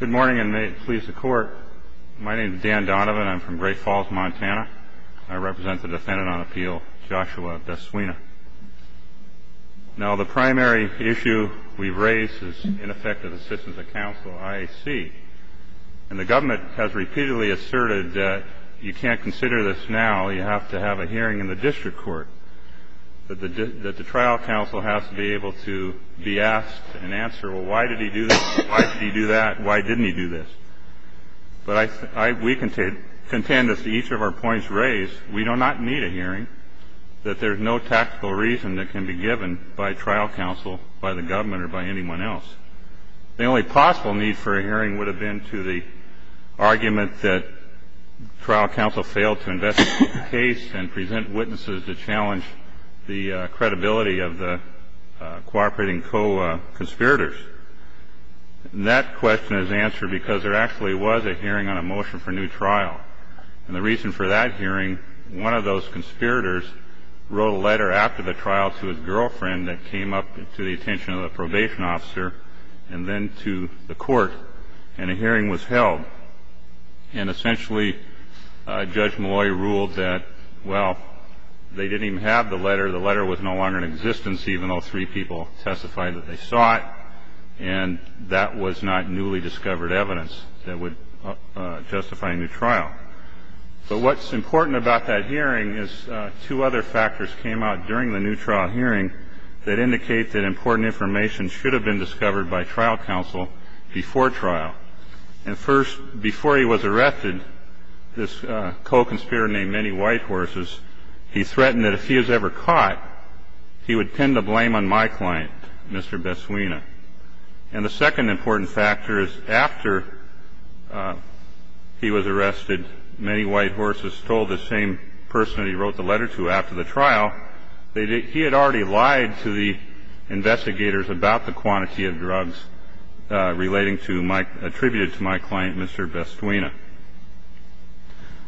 Good morning and may it please the court. My name is Dan Donovan. I'm from Great Falls, Montana. I represent the defendant on appeal, Joshua Bestwina. Now the primary issue we've And the government has repeatedly asserted that you can't consider this now, you have to have a hearing in the district court. That the trial counsel has to be able to be asked and answer, well, why did he do this? Why did he do that? Why didn't he do this? But we contend, as each of our points raised, we do not need a hearing, that there's no tactical reason that can be given by trial counsel, by the government, or by anyone else. The only possible need for a hearing would have been to the argument that trial counsel failed to investigate the case and present witnesses to challenge the credibility of the cooperating co-conspirators. And that question is answered because there actually was a hearing on a motion for a new trial. And the reason for that hearing, one of those conspirators wrote a letter after the trial to his girlfriend that came up to the attention of the probation officer and then to the court. And a hearing was held. And essentially, Judge Malloy ruled that, well, they didn't even have the letter. The letter was no longer in existence, even though three people testified that they saw it. And that was not newly discovered evidence that would justify a new trial. But what's important about that hearing is two other factors came out during the new trial hearing that indicate that important information should have been discovered by trial counsel before trial. And first, before he was arrested, this co-conspirator named Minnie Whitehorses, he threatened that if he was ever caught, he would tend to blame on my client, Mr. Besswina. And the second important factor is after he was arrested, Minnie Whitehorses told the same person he wrote the letter to after the trial that he had already lied to the investigators about the quantity of drugs relating to my, attributed to my client, Mr. Besswina.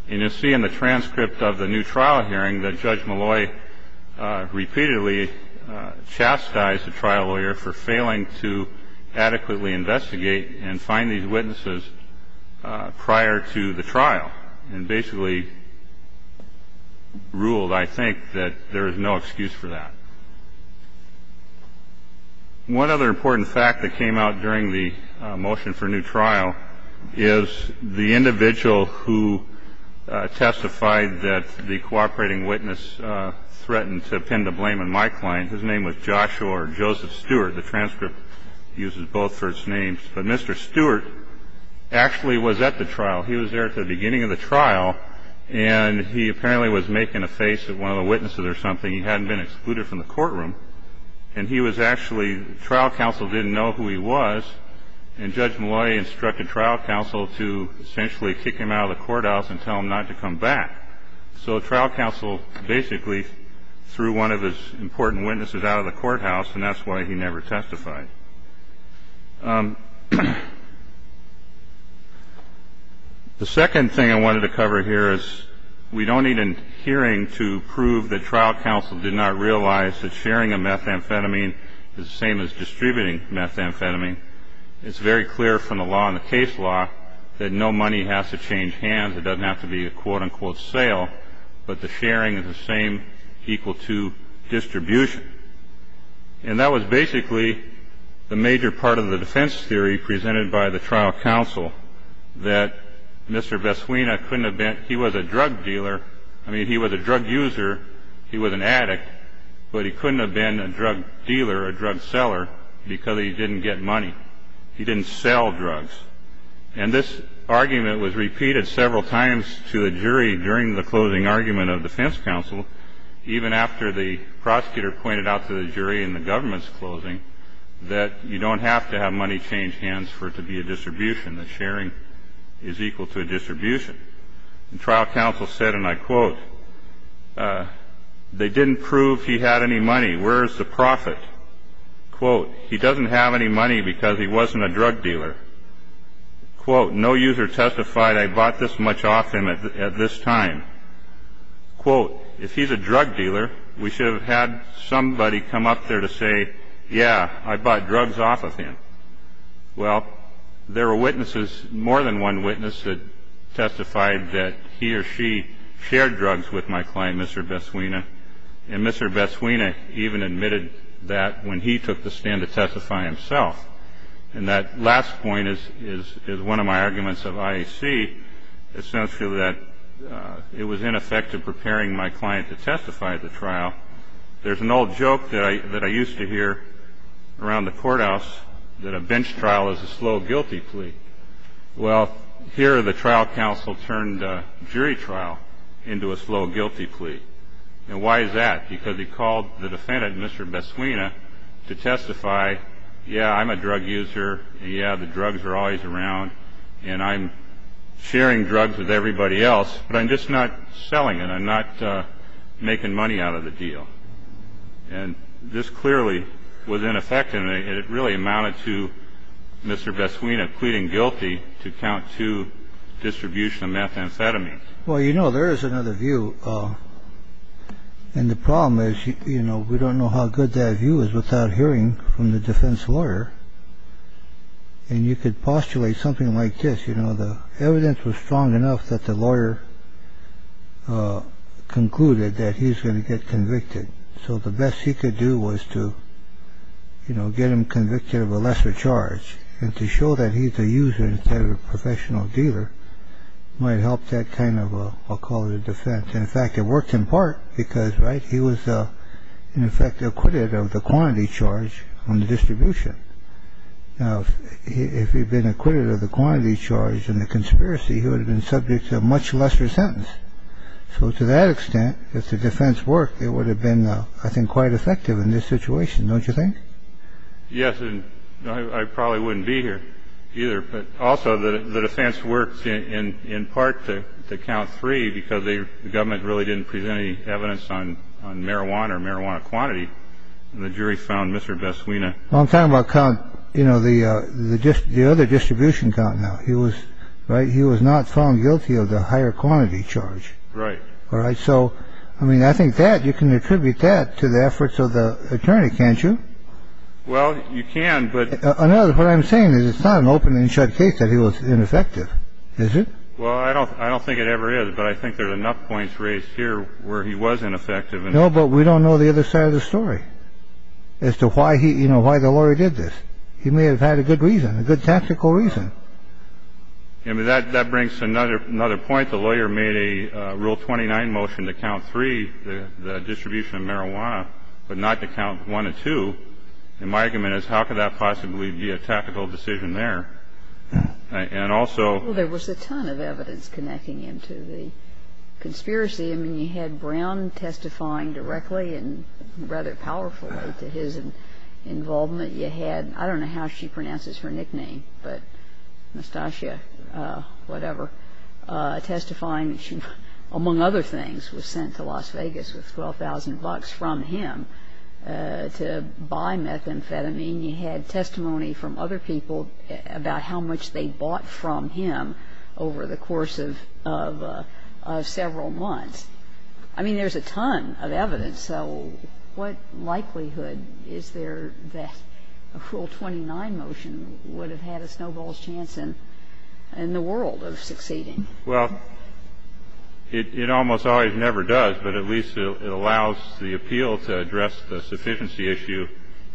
And you'll see in the transcript of the new trial hearing that Judge Malloy repeatedly chastised the trial lawyer for failing to adequately investigate and find these witnesses prior to the trial and basically ruled, I think, that there is no excuse for that. One other important fact that came out during the motion for new trial is the individual who testified that the cooperating witness threatened to tend to blame on my client. His name was Joshua or Joseph Stewart. The transcript uses both for its names. But Mr. Stewart actually was at the trial. He was there at the beginning of the trial. And he apparently was making a face at one of the witnesses or something. He hadn't been excluded from the courtroom. And he was actually, trial counsel didn't know who he was. And Judge Malloy instructed trial counsel to essentially kick him out of the courthouse and tell him not to come back. So trial counsel basically threw one of his important witnesses out of the courthouse. And that's why he never testified. The second thing I wanted to cover here is we don't need a hearing to prove that trial counsel did not realize that sharing a methamphetamine is the same as distributing methamphetamine. It's very clear from the law and the case law that no money has to change hands. It doesn't have to be a quote-unquote sale. But the sharing is the same equal to distribution. And that was basically the major part of the defense theory presented by the trial counsel, that Mr. Besswina couldn't have been, he was a drug dealer. I mean, he was a drug user. He was an addict. But he couldn't have been a drug dealer, a drug seller, because he didn't get money. He didn't sell drugs. And this argument was repeated several times to a jury during the closing argument of defense counsel, even after the prosecutor pointed out to the jury in the government's closing that you don't have to have money change hands for it to be a distribution, that sharing is equal to a distribution. And trial counsel said, and I quote, they didn't prove he had any money. Where is the profit? Quote, quote, he doesn't have any money because he wasn't a drug dealer. Quote, no user testified I bought this much off him at this time. Quote, if he's a drug dealer, we should have had somebody come up there to say, yeah, I bought drugs off of him. Well, there were witnesses, more than one witness that testified that he or she shared drugs with my client, Mr. Besswina. And Mr. Besswina even admitted that when he took the stand to testify himself. And that last point is one of my arguments of IAC essentially that it was ineffective preparing my client to testify at the trial. There's an old joke that I used to hear around the courthouse that a bench trial is a slow guilty plea. Well, here the trial counsel turned a jury trial into a slow guilty plea. And why is that? Because he called the defendant, Mr. Besswina, to testify. Yeah, I'm a drug user. Yeah, the drugs are always around. And I'm sharing drugs with everybody else, but I'm just not selling it. I'm not making money out of the deal. And this clearly was ineffective. And it really amounted to Mr. Besswina pleading guilty to count to distribution of methamphetamine. Well, you know, there is another view. And the problem is, you know, we don't know how good that view is without hearing from the defense lawyer. And you could postulate something like this. You know, the evidence was strong enough that the lawyer concluded that he's going to get convicted. So the best he could do was to, you know, get him convicted of a lesser charge. And to show that he's a user instead of a professional dealer might help that kind of a, I'll call it a defense. In fact, it works in part because, right, he was in effect acquitted of the quantity charge on the distribution. Now, if he'd been acquitted of the quantity charge and the conspiracy, he would have been subject to a much lesser sentence. So to that extent, if the defense worked, it would have been, I think, quite effective in this situation. Don't you think? Yes. And I probably wouldn't be here either. But also the defense works in part to count three because the government really didn't present any evidence on marijuana or marijuana quantity. The jury found Mr. Best. We know I'm talking about count, you know, the the other distribution count. Now he was right. He was not found guilty of the higher quantity charge. Right. All right. So, I mean, I think that you can attribute that to the efforts of the attorney, can't you? Well, you can. But I know what I'm saying is it's not an open and shut case that he was ineffective, is it? Well, I don't I don't think it ever is. But I think there's enough points raised here where he was ineffective. No, but we don't know the other side of the story as to why he you know, why the lawyer did this. He may have had a good reason, a good tactical reason. I mean, that that brings another another point. The lawyer made a rule. Twenty nine motion to count three, the distribution of marijuana, but not to count one or two. And my argument is how could that possibly be a tactical decision there? And also there was a ton of evidence connecting him to the conspiracy. I mean, you had Brown testifying directly and rather powerfully to his involvement. You had I don't know how she pronounces her nickname, but Nastasia, whatever, testifying. She, among other things, was sent to Las Vegas with twelve thousand bucks from him to buy methamphetamine. You had testimony from other people about how much they bought from him over the course of several months. I mean, there's a ton of evidence. So what likelihood is there that a full twenty nine motion would have had a snowball's chance in the world of succeeding? Well, it almost always never does. But at least it allows the appeal to address the sufficiency issue.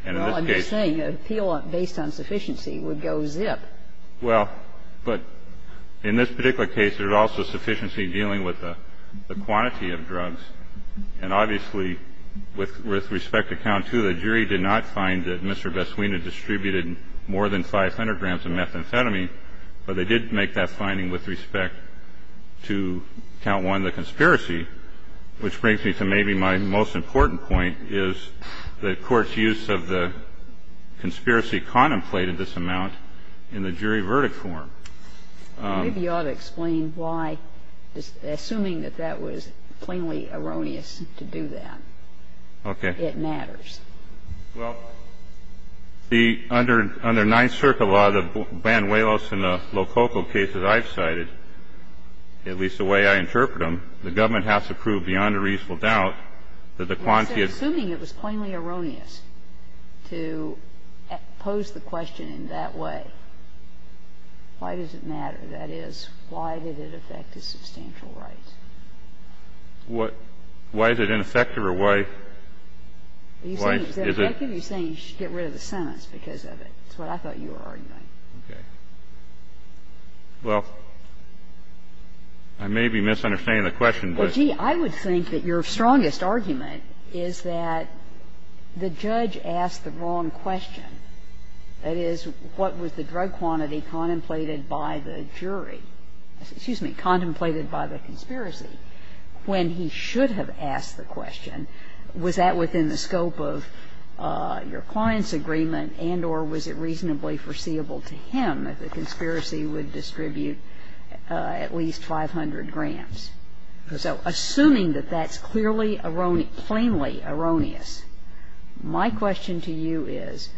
And in this case. Well, I'm just saying an appeal based on sufficiency would go zip. Well, but in this particular case, there's also sufficiency dealing with the quantity of drugs. And obviously, with respect to count two, the jury did not find that Mr. Vaswina distributed more than 500 grams of methamphetamine, but they did make that finding with respect to count one, the conspiracy, which brings me to maybe my most important point is the Court's use of the conspiracy contemplated this amount in the jury verdict form. Maybe you ought to explain why, assuming that that was plainly erroneous to do that. Okay. It matters. Well, under Ninth Circuit law, the Banuelos and the Lococo cases I've cited, at least the way I interpret them, the government has to prove beyond a reasonable doubt that the quantity of drugs is a substantial amount. It's not the quantity of drug, but the quantity of drug is a substantial amount. So assuming it was plainly erroneous to pose the question in that way, why does it matter? That is, why did it affect his substantial rights? What – why is it ineffective? Or why is it – How can you say you should get rid of the sentence because of it? That's what I thought you were arguing. Okay. Well, I may be misunderstanding the question, but – Well, gee, I would think that your strongest argument is that the judge asked the wrong question. That is, what was the drug quantity contemplated by the jury – excuse me, contemplated by the conspiracy when he should have asked the question? Was that within the scope of your client's agreement and or was it reasonably foreseeable to him that the conspiracy would distribute at least 500 grams? So assuming that that's clearly – plainly erroneous, my question to you is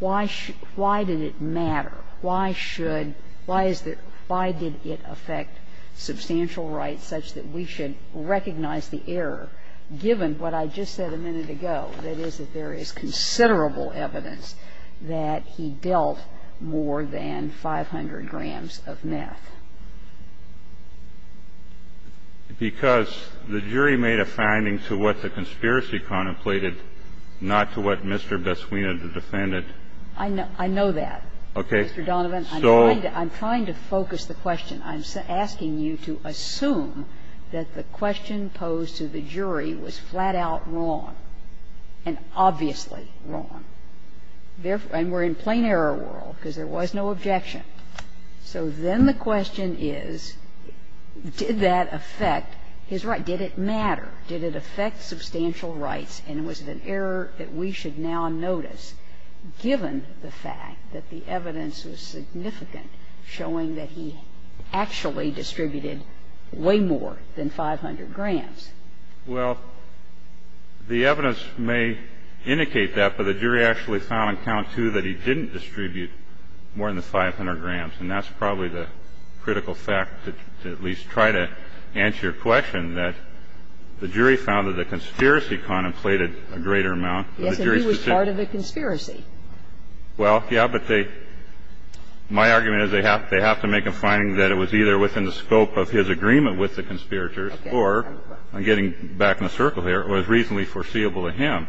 why should – why did it matter? Why should – why is it – why did it affect substantial rights such that we should recognize the error given what I just said a minute ago, that is, that there is considerable evidence that he dealt more than 500 grams of meth? Because the jury made a finding to what the conspiracy contemplated, not to what Mr. Besswina, the defendant – I know that, Mr. Donovan. I'm trying to focus the question. I'm asking you to assume that the question posed to the jury was flat-out wrong and obviously wrong, and we're in plain error world because there was no objection. So then the question is, did that affect his right? Did it matter? Did it affect substantial rights? And was it an error that we should now notice given the fact that the evidence was significant, showing that he actually distributed way more than 500 grams? Well, the evidence may indicate that, but the jury actually found on count two that he didn't distribute more than 500 grams, and that's probably the critical fact to at least try to answer your question, that the jury found that the conspiracy contemplated a greater amount. Yes, and he was part of the conspiracy. Well, yes, but they – my argument is they have to make a finding that it was either within the scope of his agreement with the conspirators or, I'm getting back in a circle here, it was reasonably foreseeable to him,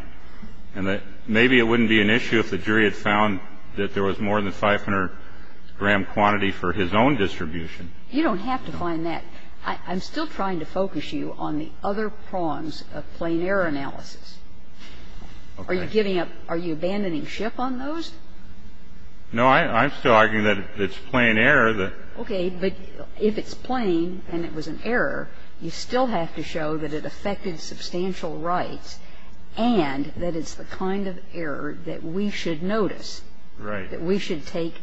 and that maybe it wouldn't be an issue if the jury had found that there was more than 500-gram quantity for his own distribution. You don't have to find that. I'm still trying to focus you on the other prongs of plain error analysis. Are you giving up – are you abandoning Schiff on those? No, I'm still arguing that it's plain error that – Okay. But if it's plain and it was an error, you still have to show that it affected substantial rights and that it's the kind of error that we should notice, that we should take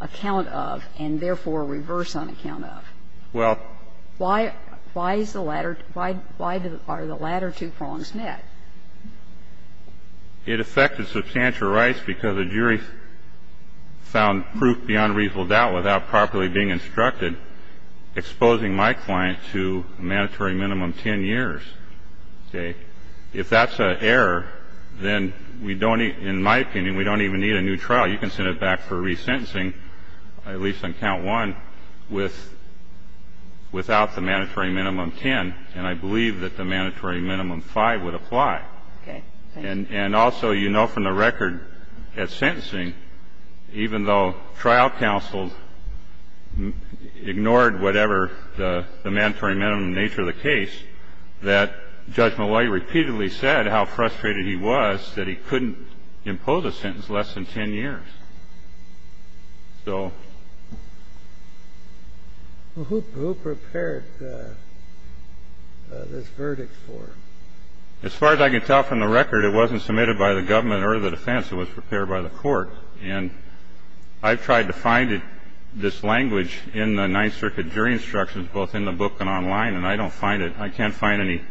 account of and therefore reverse on account of. Well – Why is the latter – why are the latter two prongs met? It affected substantial rights because the jury found proof beyond reasonable doubt without properly being instructed, exposing my client to a mandatory minimum 10 years. Okay. If that's an error, then we don't – in my opinion, we don't even need a new trial. Well, you can send it back for resentencing, at least on count one, with – without the mandatory minimum 10. And I believe that the mandatory minimum 5 would apply. Okay. And also, you know from the record at sentencing, even though trial counsel ignored whatever the mandatory minimum nature of the case, that Judge Malloy repeatedly said how frustrated he was that he couldn't impose a sentence less than 10 years. So – Well, who prepared this verdict for him? As far as I can tell from the record, it wasn't submitted by the government or the defense. It was prepared by the court. And I've tried to find it – this language in the Ninth Circuit jury instructions, both in the book and online, and I don't find it. I can't find any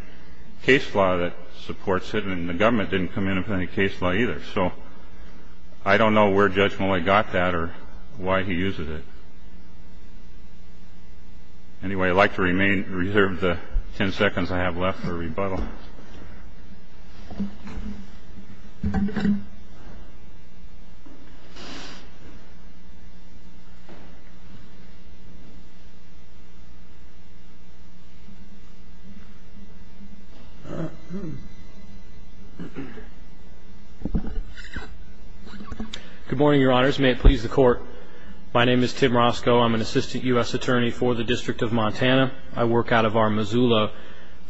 case law that supports it. And the government didn't come in with any case law either. So I don't know where Judge Malloy got that or why he uses it. Anyway, I'd like to remain – reserve the 10 seconds I have left for rebuttal. Good morning, Your Honors. May it please the Court. My name is Tim Roscoe. I'm an assistant U.S. attorney for the District of Montana. I work out of our Missoula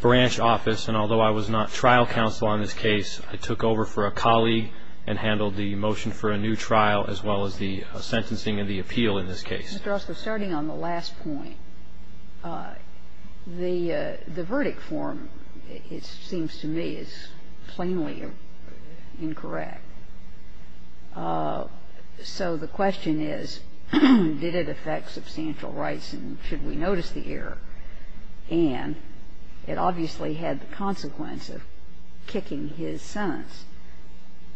branch office. And although I was not trial counsel on this case, I took over for a colleague and handled the motion for a new trial as well as the sentencing and the appeal in this case. And the question is, did it affect substantial rights and should we notice the error? And it obviously had the consequence of kicking his sentence,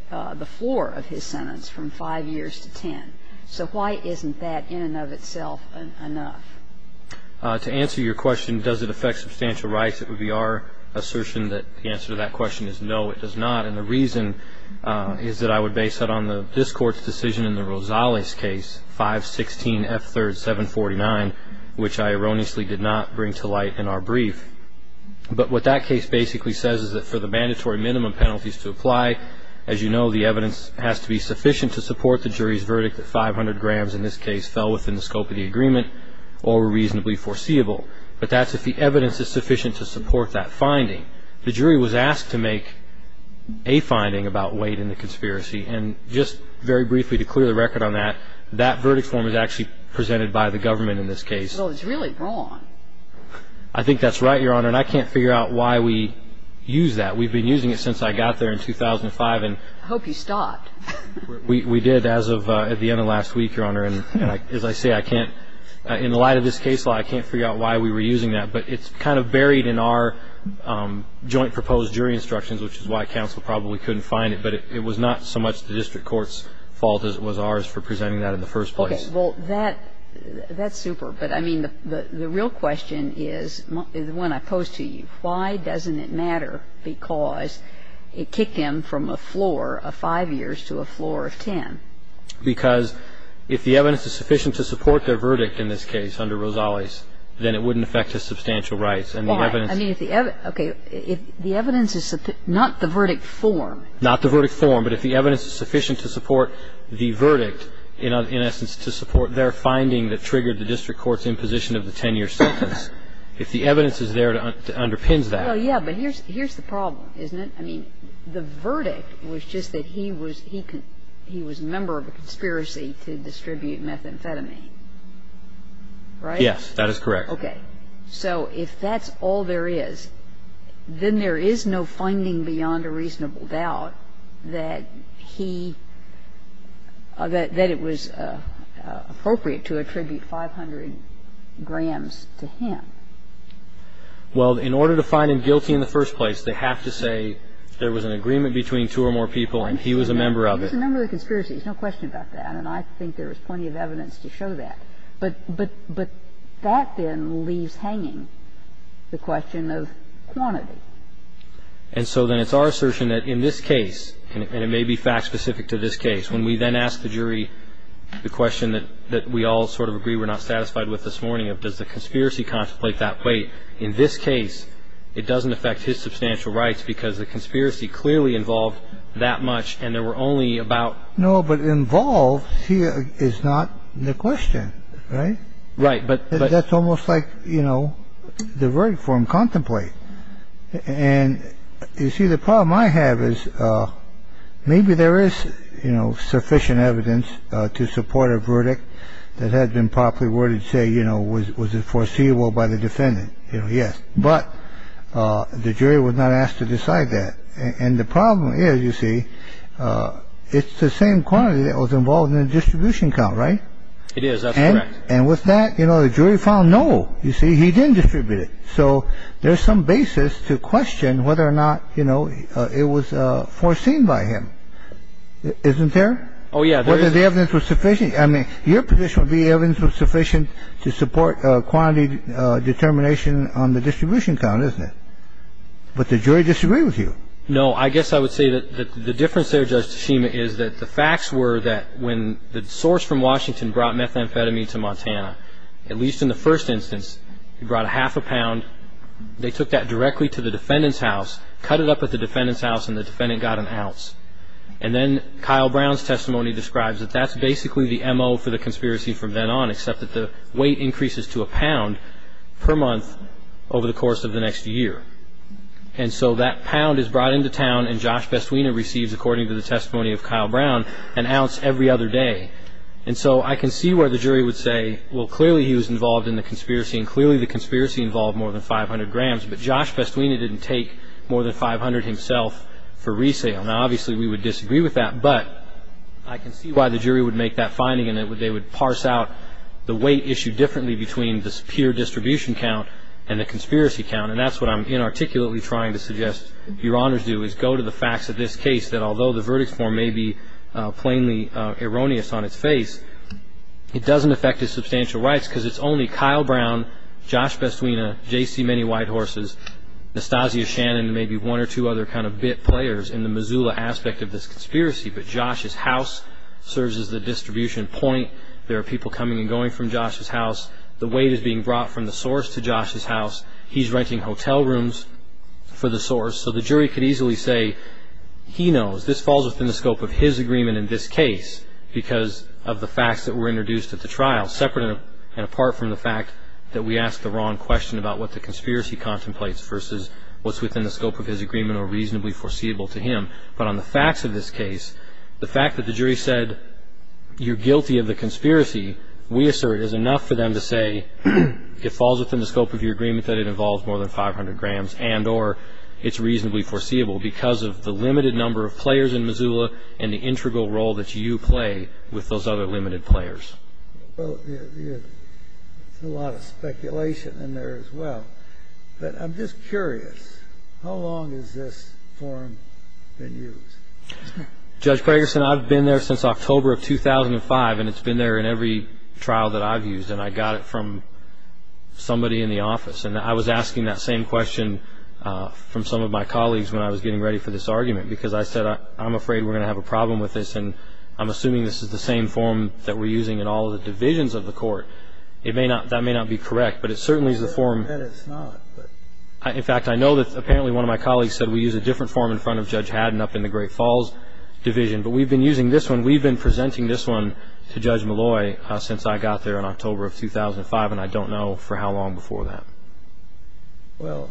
the floor of his sentence from 5 years to 10. So why isn't that in and of itself enough? To answer your question, does it affect substantial rights and should we notice the error? If it affects substantial rights, it would be our assertion that the answer to that question is no, it does not. And the reason is that I would base that on this Court's decision in the Rosales case, 516F3rd749, which I erroneously did not bring to light in our brief. But what that case basically says is that for the mandatory minimum penalties to apply, as you know, the evidence has to be sufficient to support the jury's verdict that 500 grams in this case fell within the scope of the agreement or were reasonably foreseeable. But that's if the evidence is sufficient to support that finding. The jury was asked to make a finding about weight in the conspiracy. And just very briefly, to clear the record on that, that verdict form is actually presented by the government in this case. Well, it's really wrong. I think that's right, Your Honor. And I can't figure out why we use that. We've been using it since I got there in 2005. I hope you stopped. We did as of at the end of last week, Your Honor. And as I say, I can't, in light of this case, I can't figure out why we were using that. But it's kind of buried in our joint proposed jury instructions, which is why counsel probably couldn't find it. But it was not so much the district court's fault as it was ours for presenting that in the first place. Okay. Well, that's super. But, I mean, the real question is, the one I pose to you, why doesn't it matter because it kicked him from a floor of 5 years to a floor of 10? Because if the evidence is sufficient to support their verdict in this case under Rosales, then it wouldn't affect his substantial rights. Why? Okay. If the evidence is not the verdict form. Not the verdict form. But if the evidence is sufficient to support the verdict, in essence, to support their finding that triggered the district court's imposition of the 10-year sentence. If the evidence is there, it underpins that. Well, yeah. But here's the problem, isn't it? I mean, the verdict was just that he was member of a conspiracy to distribute methamphetamine. Right? Yes, that is correct. Okay. So if that's all there is, then there is no finding beyond a reasonable doubt that he that it was appropriate to attribute 500 grams to him. Well, in order to find him guilty in the first place, they have to say there was an agreement between two or more people and he was a member of it. There's a number of conspiracies. There's no question about that. And I think there was plenty of evidence to show that. But that then leaves hanging the question of quantity. And so then it's our assertion that in this case, and it may be fact-specific to this case, when we then ask the jury the question that we all sort of agree we're not satisfied with this morning, does the conspiracy contemplate that weight? In this case, it doesn't affect his substantial rights because the conspiracy clearly involved that much. And there were only about. No, but involved here is not the question. Right. Right. But that's almost like, you know, the verdict for him contemplate. And you see, the problem I have is maybe there is sufficient evidence to support a verdict that had been properly worded, which would say, you know, was it foreseeable by the defendant? Yes. But the jury was not asked to decide that. And the problem is, you see, it's the same quantity that was involved in the distribution count. Right. It is. And with that, you know, the jury found, no, you see, he didn't distribute it. So there's some basis to question whether or not, you know, it was foreseen by him, isn't there? Oh, yeah. Whether the evidence was sufficient. I mean, your position would be evidence was sufficient to support quantity determination on the distribution count, isn't it? But the jury disagreed with you. No, I guess I would say that the difference there, Judge Tshima, is that the facts were that when the source from Washington brought methamphetamine to Montana, at least in the first instance, he brought a half a pound. They took that directly to the defendant's house, cut it up at the defendant's house, and the defendant got an ounce. And then Kyle Brown's testimony describes that that's basically the M.O. for the conspiracy from then on, except that the weight increases to a pound per month over the course of the next year. And so that pound is brought into town, and Josh Bestwina receives, according to the testimony of Kyle Brown, an ounce every other day. And so I can see where the jury would say, well, clearly he was involved in the conspiracy, and clearly the conspiracy involved more than 500 grams. But Josh Bestwina didn't take more than 500 himself for resale. Now, obviously we would disagree with that, but I can see why the jury would make that finding and they would parse out the weight issue differently between the peer distribution count and the conspiracy count. And that's what I'm inarticulately trying to suggest Your Honors do, is go to the facts of this case, that although the verdict form may be plainly erroneous on its face, it doesn't affect his substantial rights because it's only Kyle Brown, Josh Bestwina, J.C. Many White Horses, Nastasia Shannon, and maybe one or two other kind of bit players in the Missoula aspect of this conspiracy. But Josh's house serves as the distribution point. There are people coming and going from Josh's house. The weight is being brought from the source to Josh's house. He's renting hotel rooms for the source. So the jury could easily say, he knows, this falls within the scope of his agreement in this case because of the facts that were introduced at the trial, separate and apart from the fact that we asked the wrong question about what the conspiracy contemplates versus what's within the scope of his agreement or reasonably foreseeable to him. But on the facts of this case, the fact that the jury said you're guilty of the conspiracy, we assert is enough for them to say it falls within the scope of your agreement that it involves more than 500 grams and or it's reasonably foreseeable because of the limited number of players in Missoula and the integral role that you play with those other limited players. Well, there's a lot of speculation in there as well. But I'm just curious, how long has this forum been used? Judge Gregerson, I've been there since October of 2005, and it's been there in every trial that I've used, and I got it from somebody in the office. And I was asking that same question from some of my colleagues when I was getting ready for this argument because I said I'm afraid we're going to have a problem with this, and I'm assuming this is the same forum that we're using in all of the divisions of the court. That may not be correct, but it certainly is the forum. In fact, I know that apparently one of my colleagues said we use a different forum in front of Judge Haddon up in the Great Falls Division, but we've been using this one. We've been presenting this one to Judge Malloy since I got there in October of 2005, and I don't know for how long before that. Well,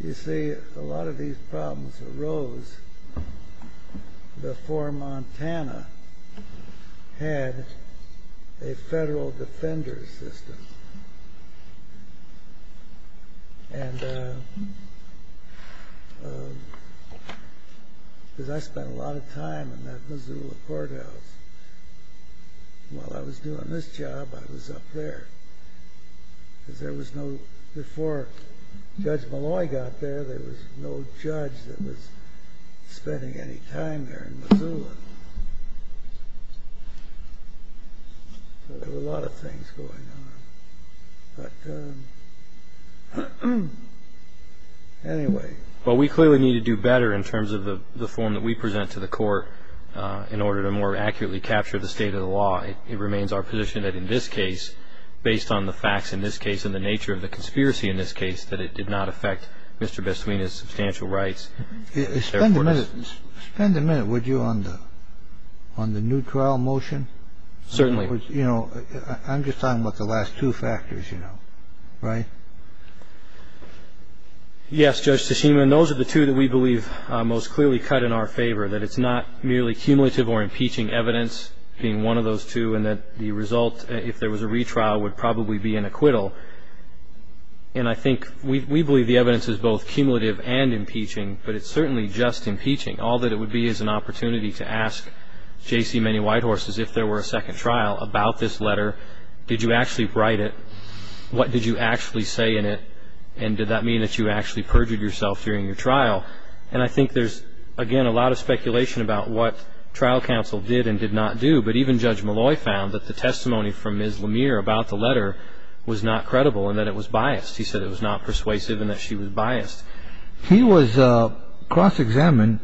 you see, a lot of these problems arose before Montana had a federal defender's system. Because I spent a lot of time in that Missoula courthouse. While I was doing this job, I was up there. Because before Judge Malloy got there, there was no judge that was spending any time there in Missoula. So there were a lot of things going on. But anyway. Well, we clearly need to do better in terms of the form that we present to the court in order to more accurately capture the state of the law. It remains our position that in this case, based on the facts in this case and the nature of the conspiracy in this case, that it did not affect Mr. Bestwina's substantial rights. Spend a minute, would you, on the new trial motion? Certainly. I'm just talking about the last two factors, you know. Right? Yes, Judge Tsushima. And those are the two that we believe are most clearly cut in our favor, that it's not merely cumulative or impeaching evidence being one of those two, and that the result, if there was a retrial, would probably be an acquittal. And I think we believe the evidence is both cumulative and impeaching, but it's certainly just impeaching. All that it would be is an opportunity to ask J.C. Manny Whitehorse, as if there were a second trial, about this letter. Did you actually write it? What did you actually say in it? And did that mean that you actually perjured yourself during your trial? And I think there's, again, a lot of speculation about what trial counsel did and did not do. But even Judge Malloy found that the testimony from Ms. Lemire about the letter was not credible and that it was biased. He said it was not persuasive and that she was biased. He was cross-examined,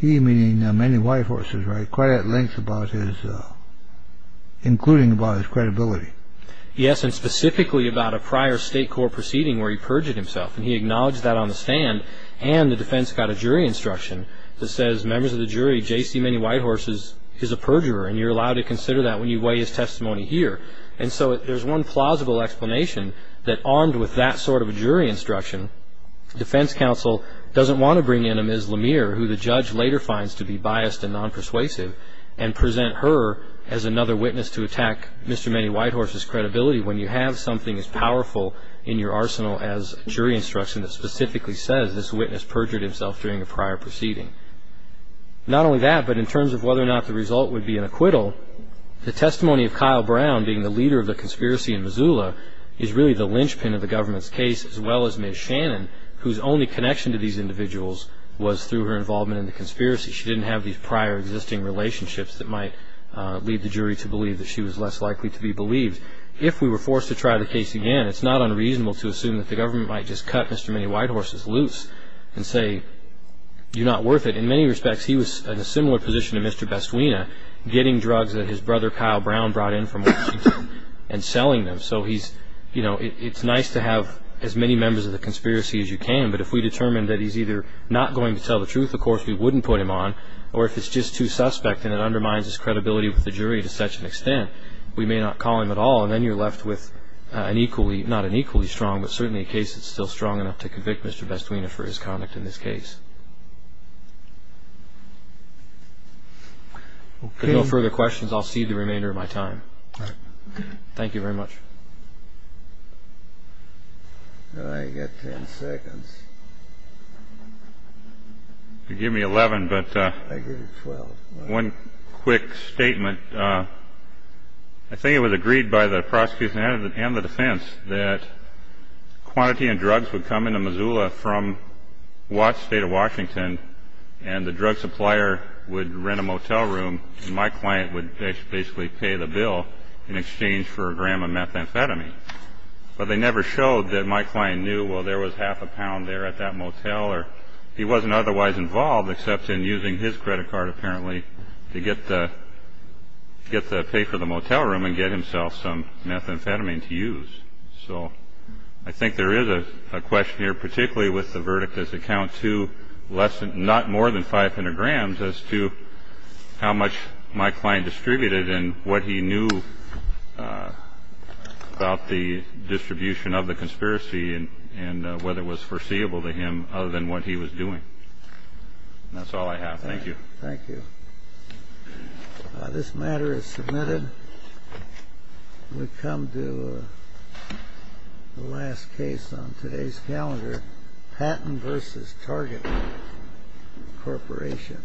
he meaning Manny Whitehorse, right, quite at length about his – including about his credibility. Yes, and specifically about a prior state court proceeding where he perjured himself. And he acknowledged that on the stand, and the defense got a jury instruction that says, Members of the jury, J.C. Manny Whitehorse is a perjurer, and you're allowed to consider that when you weigh his testimony here. And so there's one plausible explanation that, armed with that sort of a jury instruction, defense counsel doesn't want to bring in a Ms. Lemire, who the judge later finds to be biased and non-persuasive, and present her as another witness to attack Mr. Manny Whitehorse's credibility when you have something as powerful in your arsenal as a jury instruction that specifically says this witness perjured himself during a prior proceeding. Not only that, but in terms of whether or not the result would be an acquittal, the testimony of Kyle Brown being the leader of the conspiracy in Missoula is really the linchpin of the government's case, as well as Ms. Shannon, whose only connection to these individuals was through her involvement in the conspiracy. She didn't have these prior existing relationships that might lead the jury to believe that she was less likely to be believed. If we were forced to try the case again, it's not unreasonable to assume that the government might just cut Mr. Manny Whitehorse's loose and say, you're not worth it. In many respects, he was in a similar position to Mr. Bestwina, getting drugs that his brother Kyle Brown brought in from Washington and selling them. So it's nice to have as many members of the conspiracy as you can, but if we determine that he's either not going to tell the truth, of course we wouldn't put him on, or if it's just too suspect and it undermines his credibility with the jury to such an extent, we may not call him at all, and then you're left with not an equally strong, but certainly a case that's still strong enough to convict Mr. Bestwina for his conduct in this case. If there are no further questions, I'll cede the remainder of my time. Thank you very much. I've got 10 seconds. Give me 11, but one quick statement. I think it was agreed by the prosecution and the defense that quantity and drugs would come into Missoula from Watts State of Washington, and the drug supplier would rent a motel room, and my client would basically pay the bill in exchange for a gram of methamphetamine. But they never showed that my client knew, well, there was half a pound there at that motel, or he wasn't otherwise involved except in using his credit card, apparently, to get to pay for the motel room and get himself some methamphetamine to use. So I think there is a question here, particularly with the verdict as it counts to not more than 500 grams as to how much my client distributed and what he knew about the distribution of the conspiracy and whether it was foreseeable to him other than what he was doing. That's all I have. Thank you. Thank you. This matter is submitted. We come to the last case on today's calendar, Patton v. Target Corporation. Thank you.